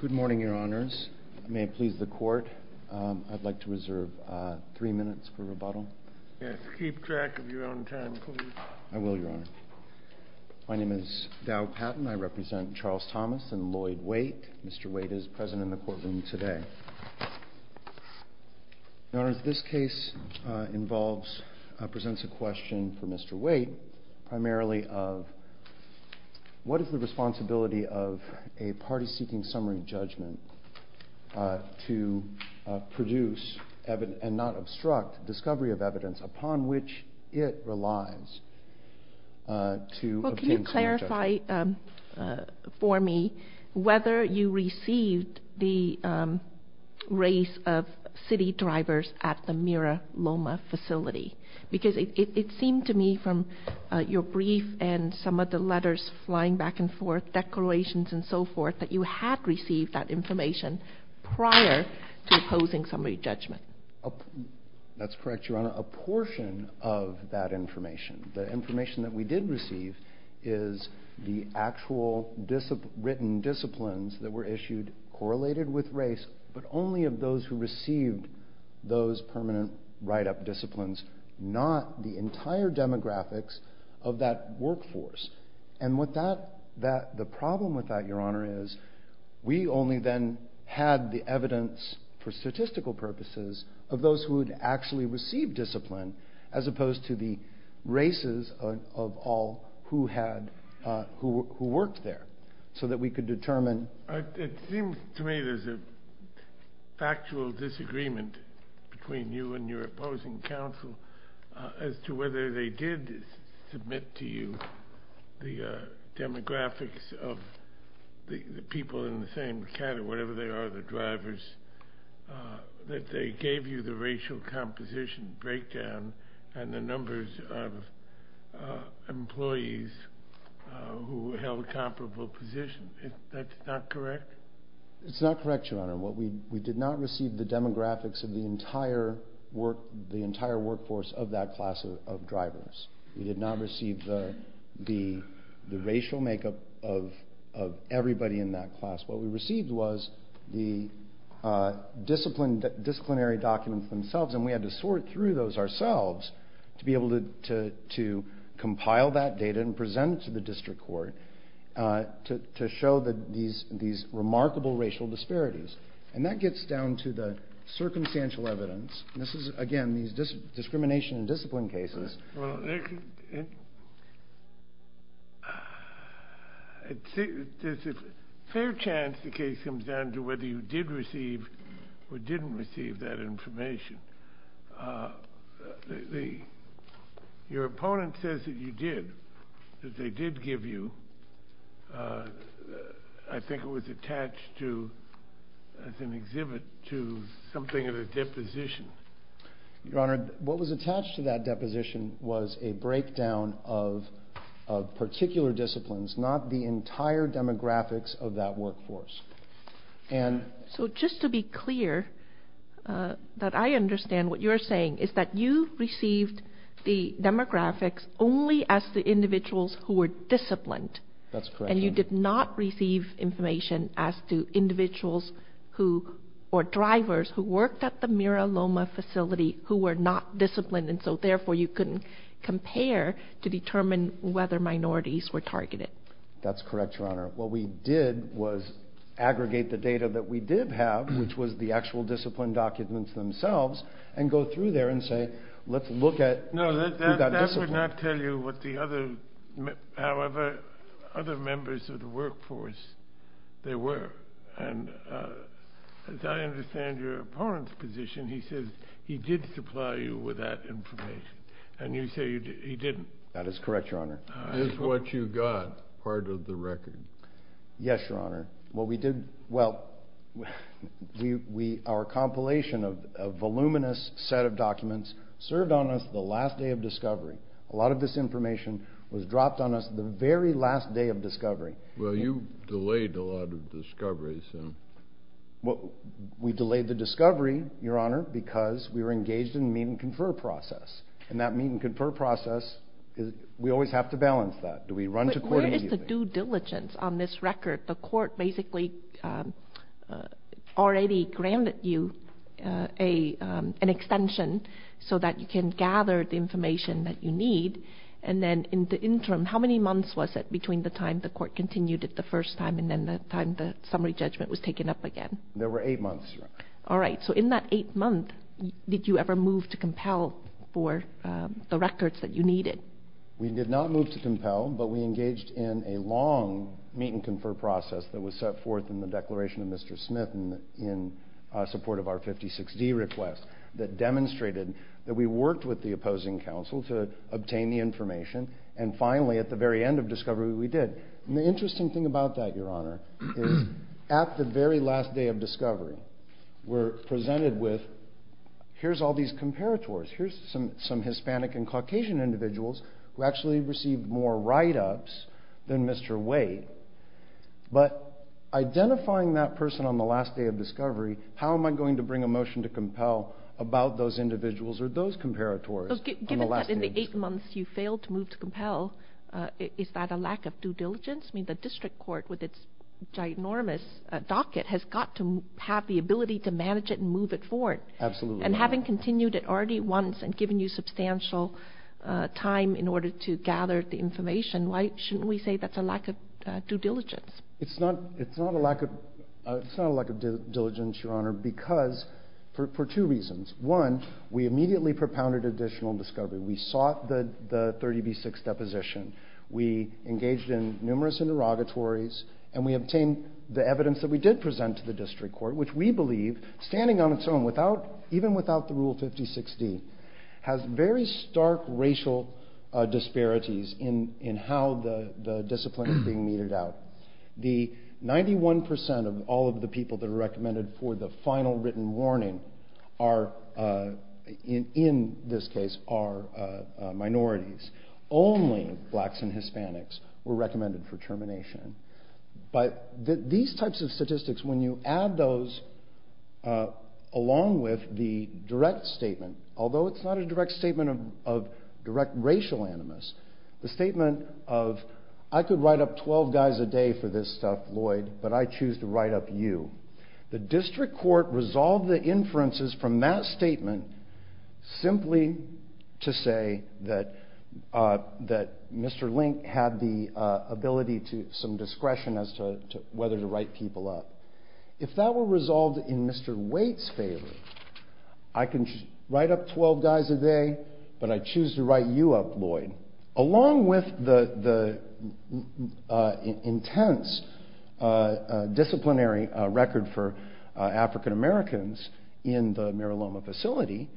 Good morning, Your Honors. May it please the Court, I'd like to reserve three minutes for rebuttal. Keep track of your own time, please. I will, Your Honor. My name is Dow Patton. I represent Charles Thomas and Lloyd Waite. Mr. Waite is present in the courtroom today. Your Honors, this case presents a question for Mr. Waite, primarily of What is the responsibility of a party seeking summary judgment to produce and not obstruct discovery of evidence upon which it relies to obtain summary judgment? Well, can you clarify for me whether you received the race of city drivers at the Mira Loma facility? Because it seemed to me from your brief and some of the letters flying back and forth, declarations and so forth, that you had received that information prior to opposing summary judgment. That's correct, Your Honor. A portion of that information, the information that we did receive, is the actual written disciplines that were issued correlated with race, but only of those who received those permanent write-up disciplines, not the entire demographics of that workforce. And the problem with that, Your Honor, is we only then had the evidence for statistical purposes of those who had actually received discipline, as opposed to the races of all who worked there, so that we could determine It seems to me there's a factual disagreement between you and your opposing counsel as to whether they did submit to you the demographics of the people in the same category, whatever they are, the drivers, that they gave you the racial composition breakdown and the numbers of employees who held comparable positions. That's not correct? It's not correct, Your Honor. We did not receive the demographics of the entire workforce of that class of drivers. We did not receive the racial makeup of everybody in that class. What we received was the disciplinary documents themselves, and we had to sort through those ourselves to be able to compile that data and present it to the district court to show these remarkable racial disparities. And that gets down to the circumstantial evidence. This is, again, these discrimination and discipline cases. Well, there's a fair chance the case comes down to whether you did receive or didn't receive that information. Your opponent says that you did, that they did give you. I think it was attached to, as an exhibit, to something of a deposition. Your Honor, what was attached to that deposition was a breakdown of particular disciplines, not the entire demographics of that workforce. So just to be clear, that I understand what you're saying is that you received the demographics only as the individuals who were disciplined. That's correct, Your Honor. And you did not receive information as to individuals or drivers who worked at the Mira Loma facility who were not disciplined, and so therefore you couldn't compare to determine whether minorities were targeted. That's correct, Your Honor. What we did was aggregate the data that we did have, which was the actual discipline documents themselves, and go through there and say, let's look at who got disciplined. No, that would not tell you what the other, however other members of the workforce, they were. And as I understand your opponent's position, he says he did supply you with that information, and you say he didn't. That is correct, Your Honor. Is what you got part of the record? Yes, Your Honor. What we did, well, our compilation of a voluminous set of documents served on us the last day of discovery. A lot of this information was dropped on us the very last day of discovery. Well, you delayed a lot of discovery, so. Well, we delayed the discovery, Your Honor, because we were engaged in the meet and confer process, and that meet and confer process, we always have to balance that. Do we run to court immediately? But where is the due diligence on this record? The court basically already granted you an extension so that you can gather the information that you need, and then in the interim, how many months was it between the time the court continued it the first time and then the time the summary judgment was taken up again? There were eight months, Your Honor. All right, so in that eight months, did you ever move to compel for the records that you needed? We did not move to compel, but we engaged in a long meet and confer process that was set forth in the Declaration of Mr. Smith in support of our 56D request that demonstrated that we worked with the opposing counsel to obtain the information, and finally, at the very end of discovery, we did. And the interesting thing about that, Your Honor, is at the very last day of discovery, we're presented with here's all these comparators. Here's some Hispanic and Caucasian individuals who actually received more write-ups than Mr. Wade. But identifying that person on the last day of discovery, how am I going to bring a motion to compel about those individuals or those comparators? Given that in the eight months you failed to move to compel, is that a lack of due diligence? I mean, the district court, with its ginormous docket, has got to have the ability to manage it and move it forward. Absolutely. And having continued it already once and given you substantial time in order to gather the information, why shouldn't we say that's a lack of due diligence? It's not a lack of due diligence, Your Honor, because for two reasons. One, we immediately propounded additional discovery. We sought the 30B6 deposition. We engaged in numerous interrogatories, and we obtained the evidence that we did present to the district court, which we believe, standing on its own, even without the Rule 56D, has very stark racial disparities in how the discipline is being meted out. The 91% of all of the people that are recommended for the final written warning are, in this case, are minorities. Only blacks and Hispanics were recommended for termination. But these types of statistics, when you add those along with the direct statement, although it's not a direct statement of direct racial animus, the statement of, I could write up 12 guys a day for this stuff, Lloyd, but I choose to write up you. The district court resolved the inferences from that statement simply to say that Mr. Link had the ability to, some discretion as to whether to write people up. If that were resolved in Mr. Waite's favor, I can write up 12 guys a day, but I choose to write you up, Lloyd. Along with the intense disciplinary record for African Americans in the Mira Loma facility,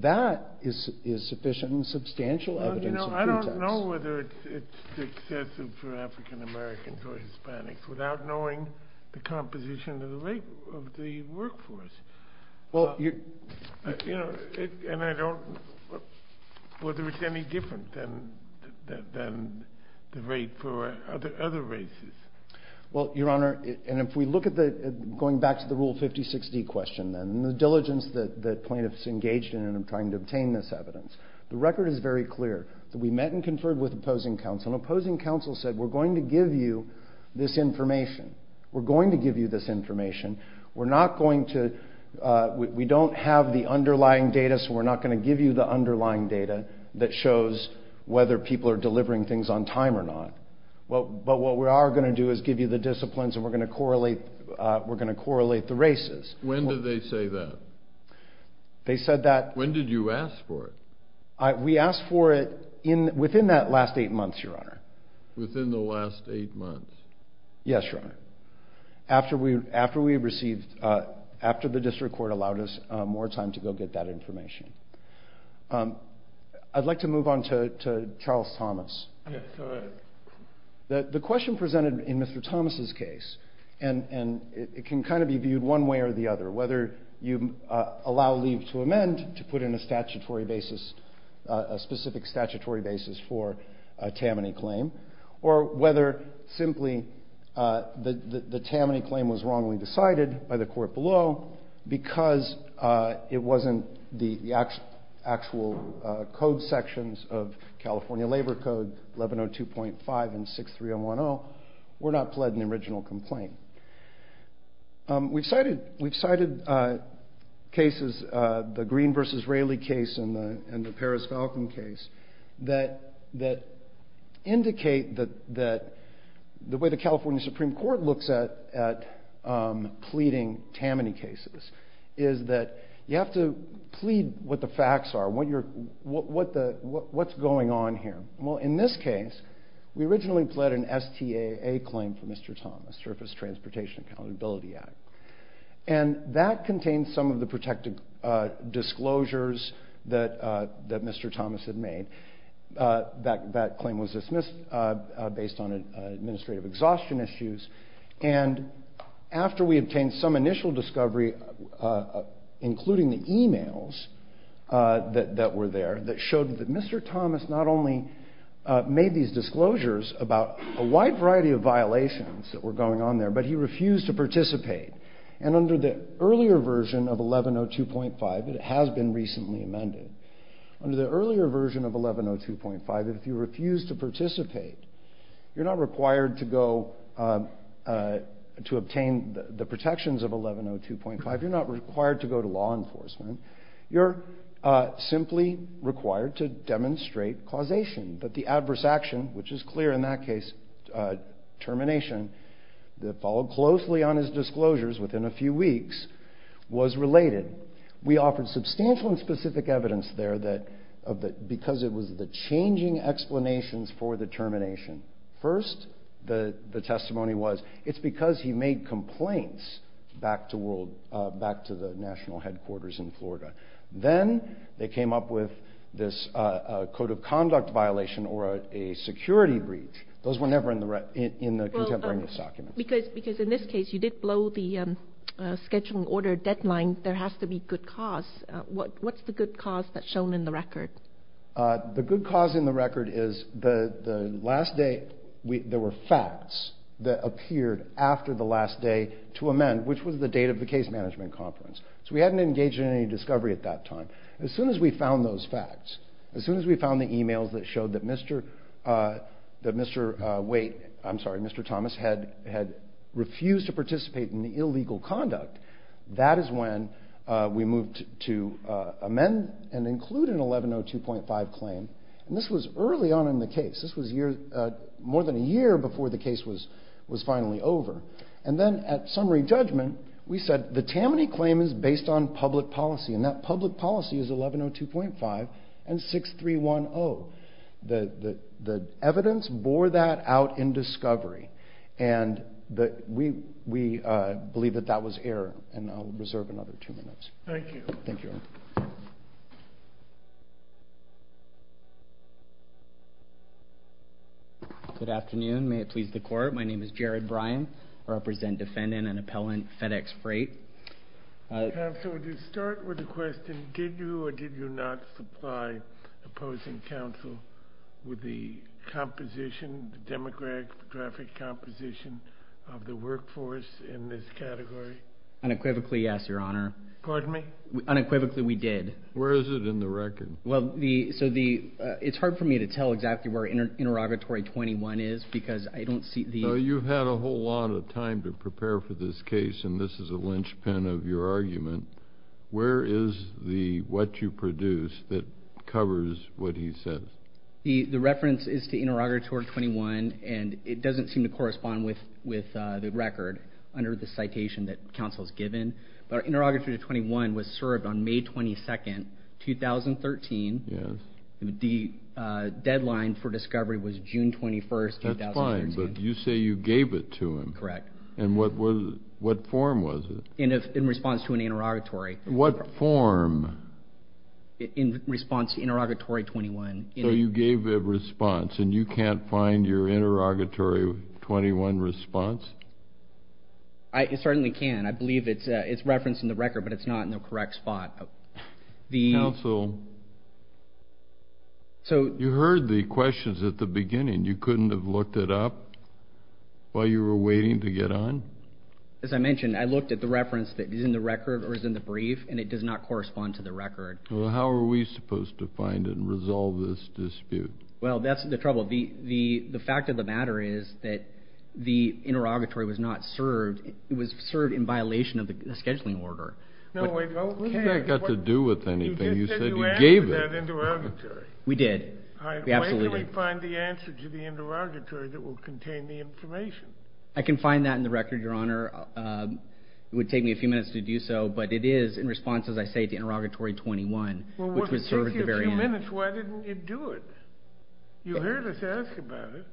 that is sufficient and substantial evidence of pretext. I don't know whether it's excessive for African Americans or Hispanics without knowing the composition of the workforce. And I don't know whether it's any different than the rate for other races. Well, Your Honor, and if we look at the, going back to the Rule 56D question, and the diligence that plaintiffs engaged in in trying to obtain this evidence, the record is very clear that we met and conferred with opposing counsel, and opposing counsel said we're going to give you this information. We're going to give you this information. We're not going to, we don't have the underlying data, so we're not going to give you the underlying data that shows whether people are delivering things on time or not. But what we are going to do is give you the disciplines, and we're going to correlate the races. When did they say that? They said that. When did you ask for it? We asked for it within that last eight months, Your Honor. Within the last eight months? Yes, Your Honor. After we received, after the district court allowed us more time to go get that information. I'd like to move on to Charles Thomas. Yes, go ahead. The question presented in Mr. Thomas' case, and it can kind of be viewed one way or the other, whether you allow leave to amend to put in a statutory basis, a specific statutory basis for a Tammany claim, or whether simply the Tammany claim was wrongly decided by the court below because it wasn't the actual code sections of California Labor Code 1102.5 and 63010 were not pled in the original complaint. We've cited cases, the Green v. Raley case and the Paris-Falcon case, that indicate that the way the California Supreme Court looks at pleading Tammany cases is that you have to plead what the facts are, what's going on here. Well, in this case, we originally pled an STAA claim for Mr. Thomas, Surface Transportation Accountability Act. And that contained some of the protected disclosures that Mr. Thomas had made. That claim was dismissed based on administrative exhaustion issues. And after we obtained some initial discovery, including the emails that were there, that showed that Mr. Thomas not only made these disclosures about a wide variety of violations that were going on there, but he refused to participate. And under the earlier version of 1102.5, and it has been recently amended, under the earlier version of 1102.5, if you refuse to participate, you're not required to go to obtain the protections of 1102.5. You're not required to go to law enforcement. You're simply required to demonstrate causation. But the adverse action, which is clear in that case, termination, that followed closely on his disclosures within a few weeks, was related. We offered substantial and specific evidence there because it was the changing explanations for the termination. First, the testimony was it's because he made complaints back to the national headquarters in Florida. Then they came up with this code of conduct violation or a security breach. Those were never in the contemporary misdocuments. Because in this case, you did blow the scheduling order deadline. There has to be good cause. What's the good cause that's shown in the record? The good cause in the record is the last day there were facts that appeared after the last day to amend, which was the date of the case management conference. So we hadn't engaged in any discovery at that time. As soon as we found those facts, as soon as we found the e-mails that showed that Mr. Thomas had refused to participate in the illegal conduct, that is when we moved to amend and include an 1102.5 claim. This was early on in the case. This was more than a year before the case was finally over. Then at summary judgment, we said the Tammany claim is based on public policy, and that public policy is 1102.5 and 6310. The evidence bore that out in discovery. We believe that that was error. I'll reserve another two minutes. Thank you. Good afternoon. May it please the Court. My name is Jared Bryan. I represent defendant and appellant FedEx Freight. Counsel, to start with a question, did you or did you not supply opposing counsel with the composition, the demographic composition of the workforce in this category? Unequivocally, yes, Your Honor. Pardon me? Unequivocally, we did. Where is it in the record? Well, so it's hard for me to tell exactly where Interrogatory 21 is because I don't see the— Well, you've had a whole lot of time to prepare for this case, and this is a linchpin of your argument. Where is the what you produce that covers what he says? The reference is to Interrogatory 21, and it doesn't seem to correspond with the record under the citation that counsel has given. But Interrogatory 21 was served on May 22, 2013. Yes. The deadline for discovery was June 21, 2013. That's fine, but you say you gave it to him. Correct. And what form was it? In response to an interrogatory. What form? In response to Interrogatory 21. So you gave a response, and you can't find your Interrogatory 21 response? I certainly can. I believe it's referenced in the record, but it's not in the correct spot. Counsel, you heard the questions at the beginning. You couldn't have looked it up while you were waiting to get on? As I mentioned, I looked at the reference that is in the record or is in the brief, and it does not correspond to the record. Well, how are we supposed to find and resolve this dispute? Well, that's the trouble. The fact of the matter is that the interrogatory was not served. It was served in violation of the scheduling order. No, wait. What has that got to do with anything? You said you gave it. You just said you answered that interrogatory. We did. We absolutely did. All right. Well, where can we find the answer to the interrogatory that will contain the information? I can find that in the record, Your Honor. It would take me a few minutes to do so, but it is in response, as I say, to interrogatory 21, which was served at the very end. Well, if it takes you a few minutes, why didn't you do it? You heard us ask about it.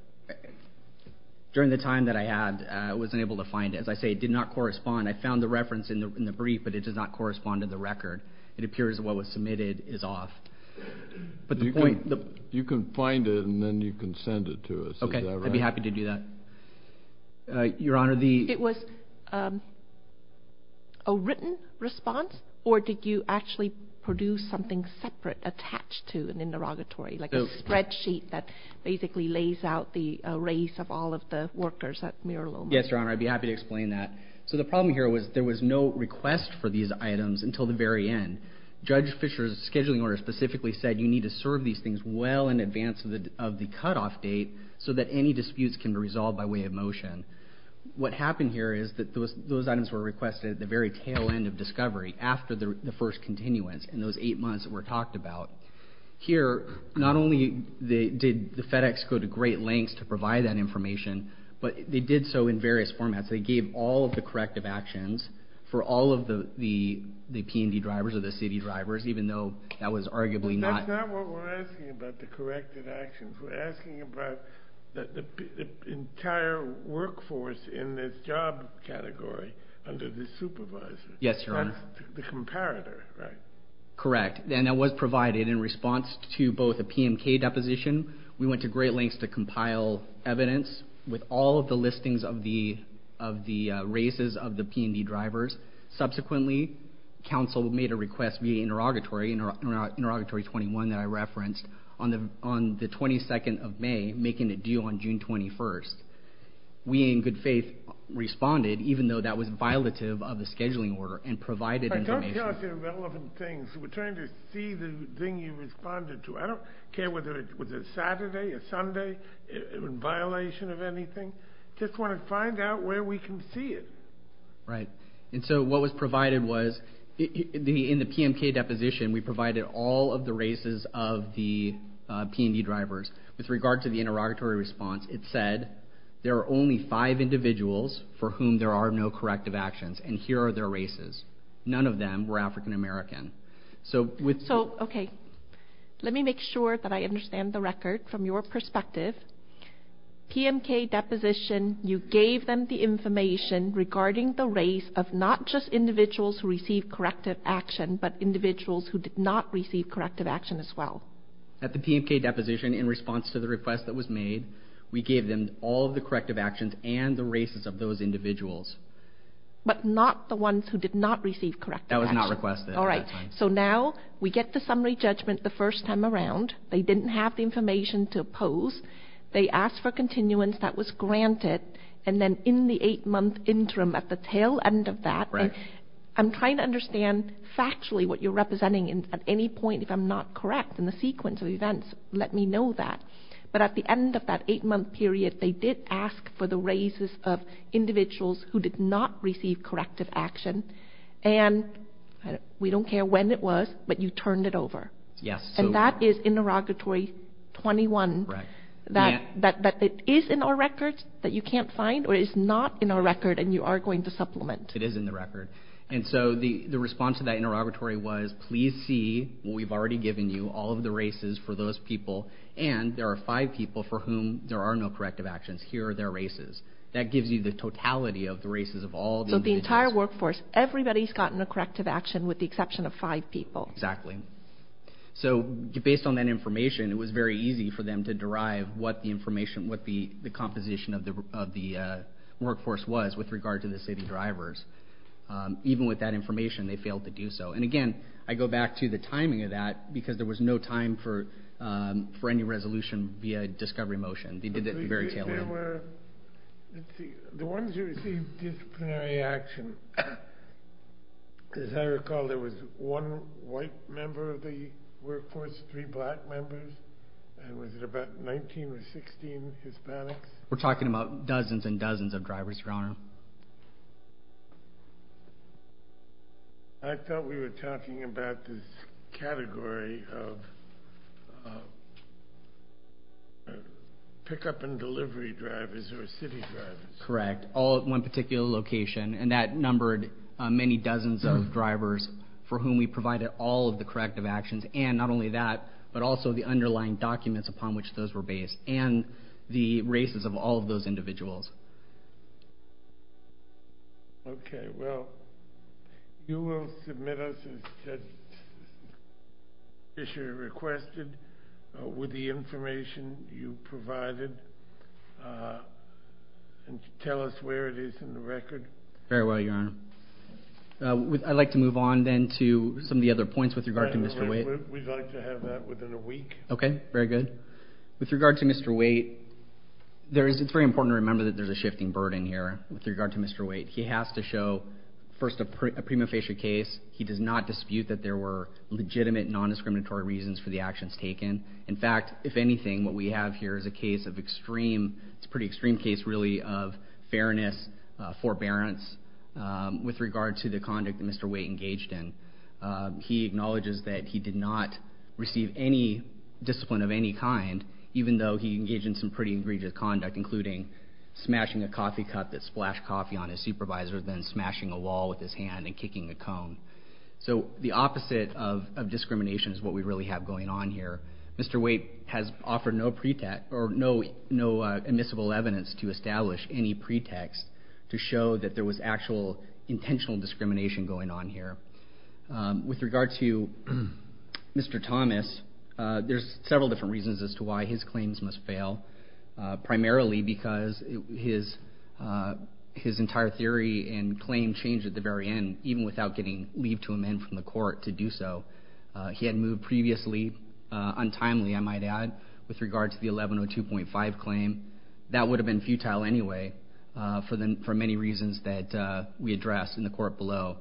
During the time that I had, I was unable to find it. As I say, it did not correspond. I found the reference in the brief, but it does not correspond to the record. It appears that what was submitted is off. You can find it, and then you can send it to us. Is that right? Okay. I'd be happy to do that. Your Honor, the It was a written response, or did you actually produce something separate attached to an interrogatory, like a spreadsheet that basically lays out the race of all of the workers at Mira Loma? Yes, Your Honor. I'd be happy to explain that. So the problem here was there was no request for these items until the very end. Judge Fisher's scheduling order specifically said you need to serve these things well in advance of the cutoff date so that any disputes can be resolved by way of motion. What happened here is that those items were requested at the very tail end of discovery, after the first continuance in those eight months that were talked about. Here, not only did the FedEx go to great lengths to provide that information, but they did so in various formats. They gave all of the corrective actions for all of the P&D drivers or the CD drivers, even though that was arguably not That's not what we're asking about, the corrective actions. We're asking about the entire workforce in this job category under the supervisor. Yes, Your Honor. That's the comparator, right? Correct. And that was provided in response to both a PMK deposition. We went to great lengths to compile evidence with all of the listings of the races of the P&D drivers. Subsequently, counsel made a request via interrogatory, interrogatory 21 that I referenced, on the 22nd of May, making a deal on June 21st. We, in good faith, responded, even though that was violative of the scheduling order, and provided information. Don't tell us irrelevant things. We're trying to see the thing you responded to. I don't care whether it was a Saturday, a Sunday, in violation of anything. I just want to find out where we can see it. Right. And so what was provided was, in the PMK deposition, we provided all of the races of the P&D drivers. With regard to the interrogatory response, it said, there are only five individuals for whom there are no corrective actions, and here are their races. None of them were African American. So, okay. Let me make sure that I understand the record from your perspective. PMK deposition, you gave them the information regarding the race of not just individuals who received corrective action, but individuals who did not receive corrective action as well. At the PMK deposition, in response to the request that was made, we gave them all of the corrective actions and the races of those individuals. But not the ones who did not receive corrective action. That was not requested. All right. So now, we get the summary judgment the first time around. They didn't have the information to oppose. They asked for continuance. That was granted. And then in the eight-month interim, at the tail end of that, I'm trying to understand factually what you're representing at any point. If I'm not correct in the sequence of events, let me know that. But at the end of that eight-month period, they did ask for the races of individuals who did not receive corrective action. And we don't care when it was, but you turned it over. Yes. And that is interrogatory 21. Right. That is in our record that you can't find, or is not in our record, and you are going to supplement. It is in the record. And so the response to that interrogatory was, please see what we've already given you, all of the races for those people, and there are five people for whom there are no corrective actions. Here are their races. That gives you the totality of the races of all the individuals. So the entire workforce, everybody's gotten a corrective action, with the exception of five people. Exactly. So based on that information, it was very easy for them to derive what the information, what the composition of the workforce was with regard to the city drivers. Even with that information, they failed to do so. And, again, I go back to the timing of that, because there was no time for any resolution via discovery motion. They did that very tail-end. The ones who received disciplinary action, as I recall, there was one white member of the workforce, three black members, and was it about 19 or 16 Hispanics? We're talking about dozens and dozens of drivers, Your Honor. I thought we were talking about this category of pickup and delivery drivers or city drivers. Correct. All at one particular location. And that numbered many dozens of drivers for whom we provided all of the corrective actions, and not only that, but also the underlying documents upon which those were based, and the races of all of those individuals. Okay. Well, you will submit us, as Judge Fischer requested, with the information you provided, and tell us where it is in the record. Very well, Your Honor. I'd like to move on, then, to some of the other points with regard to Mr. Waite. We'd like to have that within a week. Okay. Very good. With regard to Mr. Waite, it's very important to remember that there's a shifting burden here with regard to Mr. Waite. He has to show, first, a prima facie case. He does not dispute that there were legitimate non-discriminatory reasons for the actions taken. In fact, if anything, what we have here is a case of extreme, it's a pretty extreme case, really, of fairness, forbearance with regard to the conduct that Mr. Waite engaged in. He acknowledges that he did not receive any discipline of any kind, even though he engaged in some pretty egregious conduct, including smashing a coffee cup that splashed coffee on his supervisor, then smashing a wall with his hand and kicking a cone. So the opposite of discrimination is what we really have going on here. Mr. Waite has offered no pretext, or no admissible evidence to establish any pretext to show that there was actual intentional discrimination going on here. With regard to Mr. Thomas, there's several different reasons as to why his claims must fail, primarily because his entire theory and claim changed at the very end, even without getting leave to amend from the court to do so. He had moved previously, untimely, I might add, with regard to the 1102.5 claim. That would have been futile anyway, for many reasons that we addressed in the court below,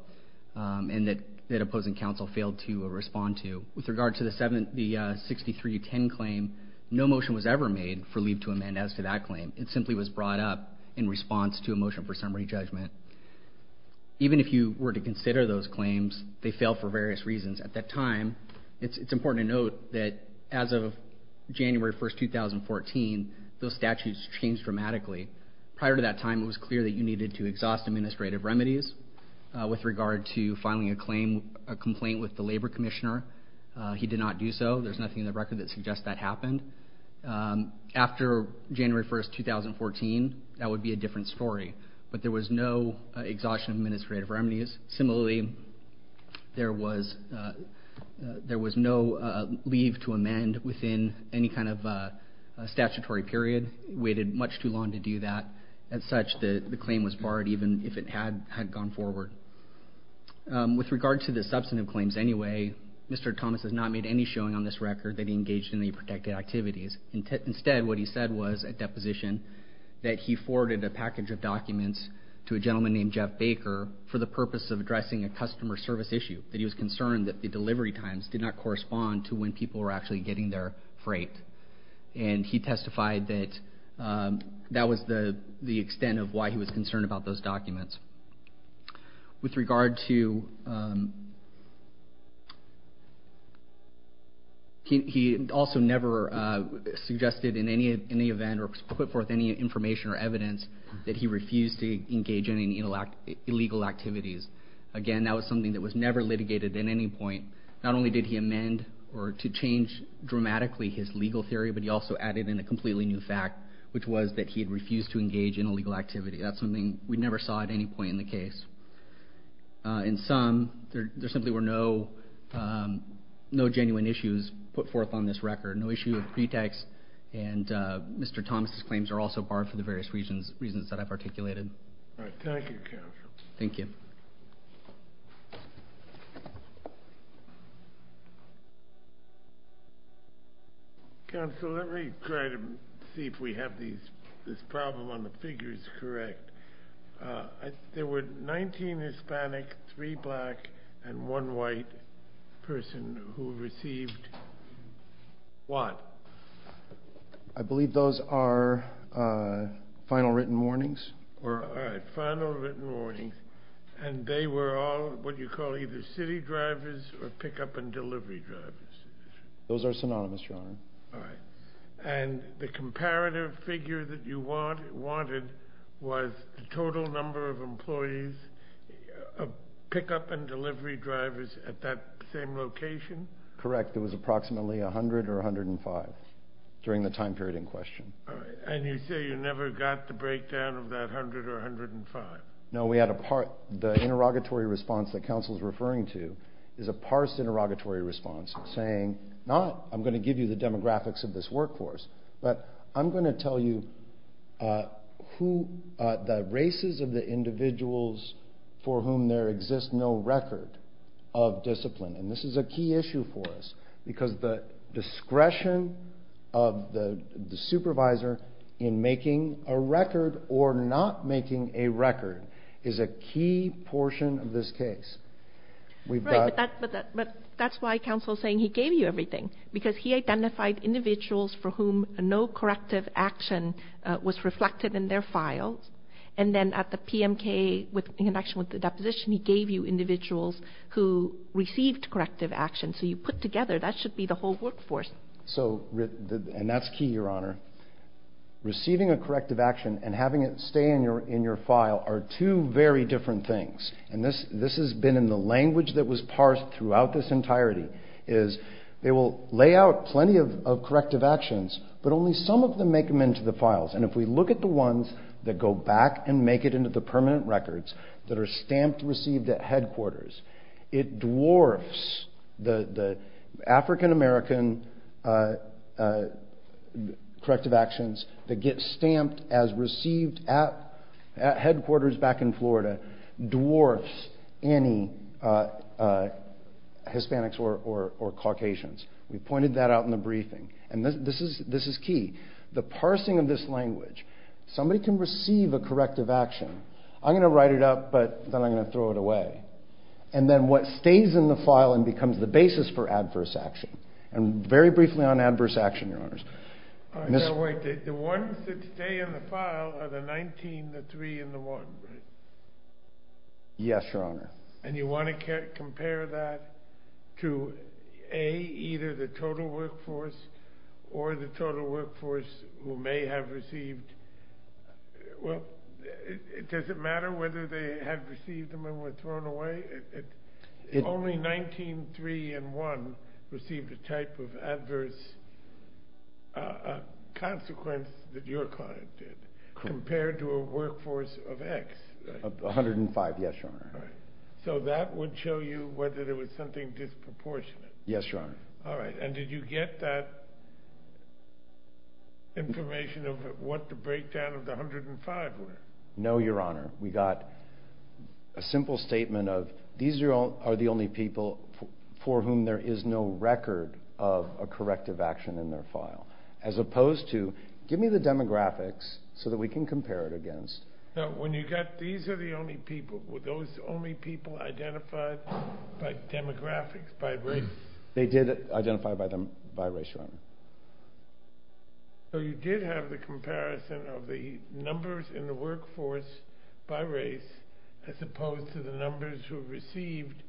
and that opposing counsel failed to respond to. With regard to the 6310 claim, no motion was ever made for leave to amend as to that claim. It simply was brought up in response to a motion for summary judgment. Even if you were to consider those claims, they fail for various reasons. At that time, it's important to note that as of January 1, 2014, those statutes changed dramatically. Prior to that time, it was clear that you needed to exhaust administrative remedies. With regard to filing a complaint with the labor commissioner, he did not do so. There's nothing in the record that suggests that happened. After January 1, 2014, that would be a different story, but there was no exhaustion of administrative remedies. Similarly, there was no leave to amend within any kind of statutory period. It waited much too long to do that. As such, the claim was barred even if it had gone forward. With regard to the substantive claims anyway, Mr. Thomas has not made any showing on this record that he engaged in any protected activities. Instead, what he said was at deposition that he forwarded a package of documents to a gentleman named Jeff Baker for the purpose of addressing a customer service issue, that he was concerned that the delivery times did not correspond to when people were actually getting their freight. He testified that that was the extent of why he was concerned about those documents. With regard to... He also never suggested in any event or put forth any information or evidence that he refused to engage in any illegal activities. Again, that was something that was never litigated at any point. Not only did he amend or to change dramatically his legal theory, but he also added in a completely new fact, which was that he had refused to engage in illegal activity. That's something we never saw at any point in the case. In sum, there simply were no genuine issues put forth on this record, no issue of pretext, and Mr. Thomas' claims are also barred for the various reasons that I've articulated. All right. Thank you, Counsel. Thank you. Counsel, let me try to see if we have this problem on the figures correct. There were 19 Hispanic, 3 black, and 1 white person who received what? I believe those are final written warnings. All right, final written warnings. They were all what you call either city drivers or pickup and delivery drivers. Those are synonymous, Your Honor. All right. And the comparative figure that you wanted was the total number of employees, pickup and delivery drivers at that same location? Correct. It was approximately 100 or 105 during the time period in question. All right. And you say you never got the breakdown of that 100 or 105? No. The interrogatory response that Counsel is referring to is a parsed interrogatory response saying, not I'm going to give you the demographics of this workforce, but I'm going to tell you the races of the individuals for whom there exists no record of discipline. And this is a key issue for us because the discretion of the supervisor in making a record or not making a record is a key portion of this case. Right, but that's why Counsel is saying he gave you everything, because he identified individuals for whom no corrective action was reflected in their files. And then at the PMK, in connection with the deposition, he gave you individuals who received corrective action. So you put together, that should be the whole workforce. And that's key, Your Honor. Receiving a corrective action and having it stay in your file are two very different things. And this has been in the language that was parsed throughout this entirety, is they will lay out plenty of corrective actions, but only some of them make them into the files. And if we look at the ones that go back and make it into the permanent records that are stamped received at headquarters, it dwarfs the African-American corrective actions that get stamped as well. It dwarfs any Hispanics or Caucasians. We pointed that out in the briefing. And this is key. The parsing of this language, somebody can receive a corrective action. I'm going to write it up, but then I'm going to throw it away. And then what stays in the file and becomes the basis for adverse action. And very briefly on adverse action, Your Honors. The ones that stay in the file are the 19, the 3, and the 1, right? Yes, Your Honor. And you want to compare that to, A, either the total workforce or the total workforce who may have received, well, does it matter whether they have received them and were thrown away? Only 19, 3, and 1 received a type of adverse consequence that your client did compared to a workforce of X. 105, yes, Your Honor. So that would show you whether there was something disproportionate. Yes, Your Honor. All right. And did you get that information of what the breakdown of the 105 were? No, Your Honor. We got a simple statement of these are the only people for whom there is no record of a corrective action in their file, as opposed to give me the demographics so that we can compare it against. No, when you got these are the only people, were those the only people identified by demographics, by race? They did identify by race, Your Honor. So you did have the comparison of the numbers in the workforce by race as opposed to the numbers who received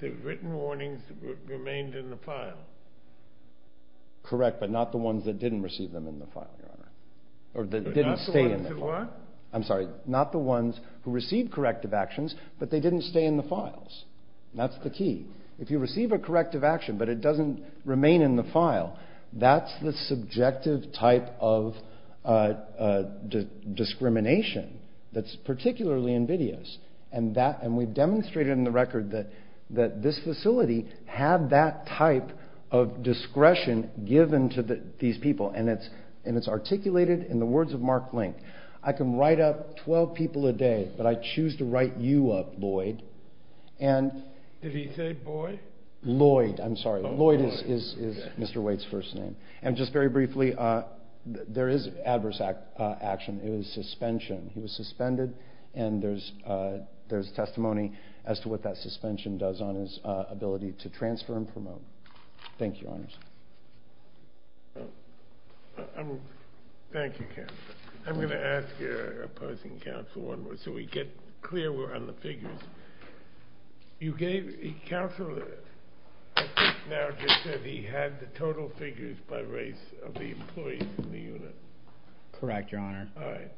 the written warnings that remained in the file? Correct, but not the ones that didn't receive them in the file, Your Honor. Or that didn't stay in the file. I'm sorry, not the ones who received corrective actions, but they didn't stay in the files. That's the key. If you receive a corrective action, but it doesn't remain in the file, that's the subjective type of discrimination that's particularly invidious. And we've demonstrated in the record that this facility had that type of discretion given to these people, and it's articulated in the words of Mark Link. I can write up 12 people a day, but I choose to write you up, Lloyd. Did he say Boyd? Lloyd, I'm sorry. Lloyd is Mr. Waite's first name. And just very briefly, there is adverse action. It was suspension. He was suspended, and there's testimony as to what that suspension does on his ability to transfer and promote. Thank you, Your Honors. Thank you, counsel. I'm going to ask opposing counsel one more, so we get clear on the figures. Counsel, I think now just said he had the total figures by race of the employees in the unit. Correct, Your Honor. All right.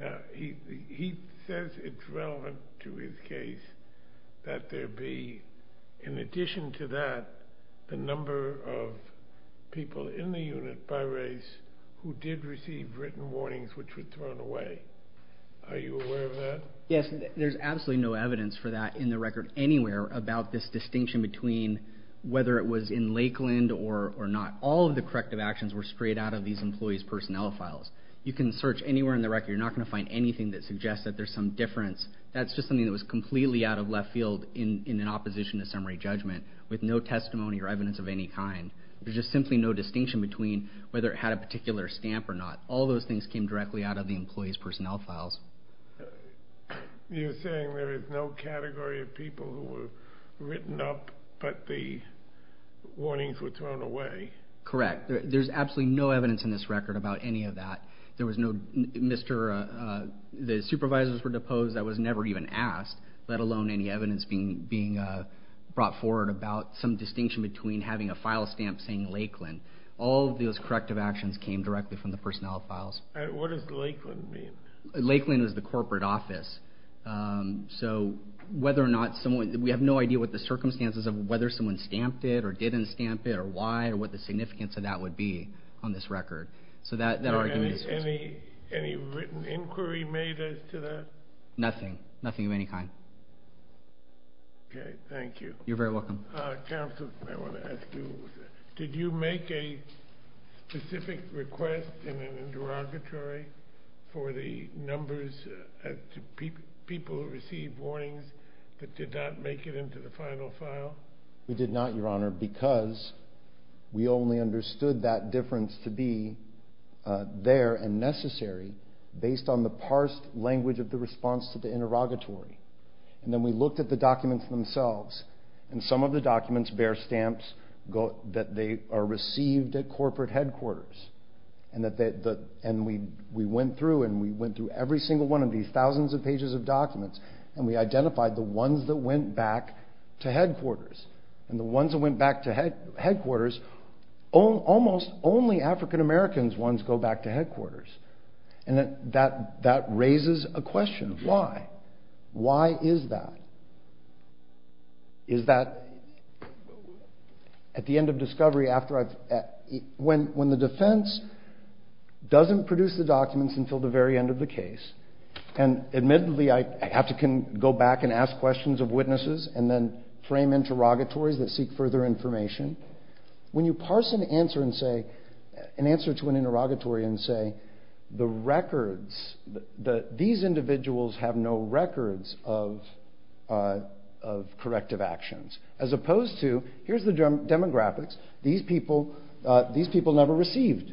Now, he says it's relevant to his case that there be, in addition to that, the number of people in the unit by race who did receive written warnings which were thrown away. Are you aware of that? Yes. There's absolutely no evidence for that in the record anywhere about this distinction between whether it was in Lakeland or not. All of the corrective actions were straight out of these employees' personnel files. You can search anywhere in the record. You're not going to find anything that suggests that there's some difference. That's just something that was completely out of left field in an opposition to summary judgment with no testimony or evidence of any kind. There's just simply no distinction between whether it had a particular stamp or not. All of those things came directly out of the employees' personnel files. You're saying there is no category of people who were written up but the warnings were thrown away? Correct. There's absolutely no evidence in this record about any of that. There was no Mr. The supervisors were deposed. That was never even asked, let alone any evidence being brought forward about some distinction between having a file stamp saying Lakeland. All of those corrective actions came directly from the personnel files. What does Lakeland mean? Lakeland is the corporate office. We have no idea what the circumstances of whether someone stamped it or didn't stamp it or why or what the significance of that would be on this record. Any written inquiry made as to that? Nothing. Nothing of any kind. Okay. Thank you. You're very welcome. Counsel, I want to ask you, did you make a specific request in an interrogatory for the numbers to people who received warnings that did not make it into the final file? We did not, Your Honor, because we only understood that difference to be there and necessary based on the parsed language of the response to the interrogatory. And then we looked at the documents themselves, and some of the documents bear stamps that they are received at corporate headquarters. And we went through, and we went through every single one of these thousands of pages of documents, and we identified the ones that went back to headquarters. And the ones that went back to headquarters, almost only African Americans ones go back to headquarters. And that raises a question. Why? Why is that? Is that at the end of discovery after I've, when the defense doesn't produce the documents until the very end of the case, and admittedly I have to go back and ask questions of witnesses and then frame interrogatories that seek further information. When you parse an answer and say, an answer to an interrogatory and say, the These individuals have no records of corrective actions. As opposed to, here's the demographics. These people never received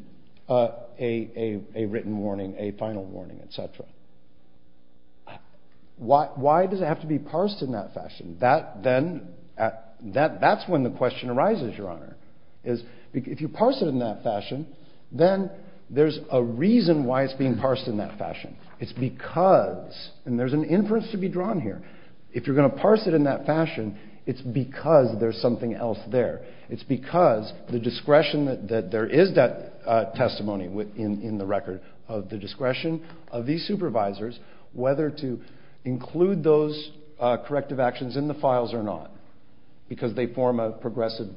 a written warning, a final warning, et cetera. Why does it have to be parsed in that fashion? That then, that's when the question arises, Your Honor, is if you parse it in that fashion, it's because, and there's an inference to be drawn here. If you're going to parse it in that fashion, it's because there's something else there. It's because the discretion that there is that testimony in the record of the discretion of these supervisors, whether to include those corrective actions in the files or not, because they form a progressive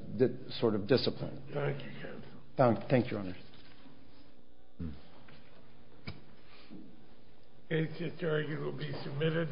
sort of discipline. Thank you, counsel. Thank you, Your Honor. The case is adjourned. It will be submitted.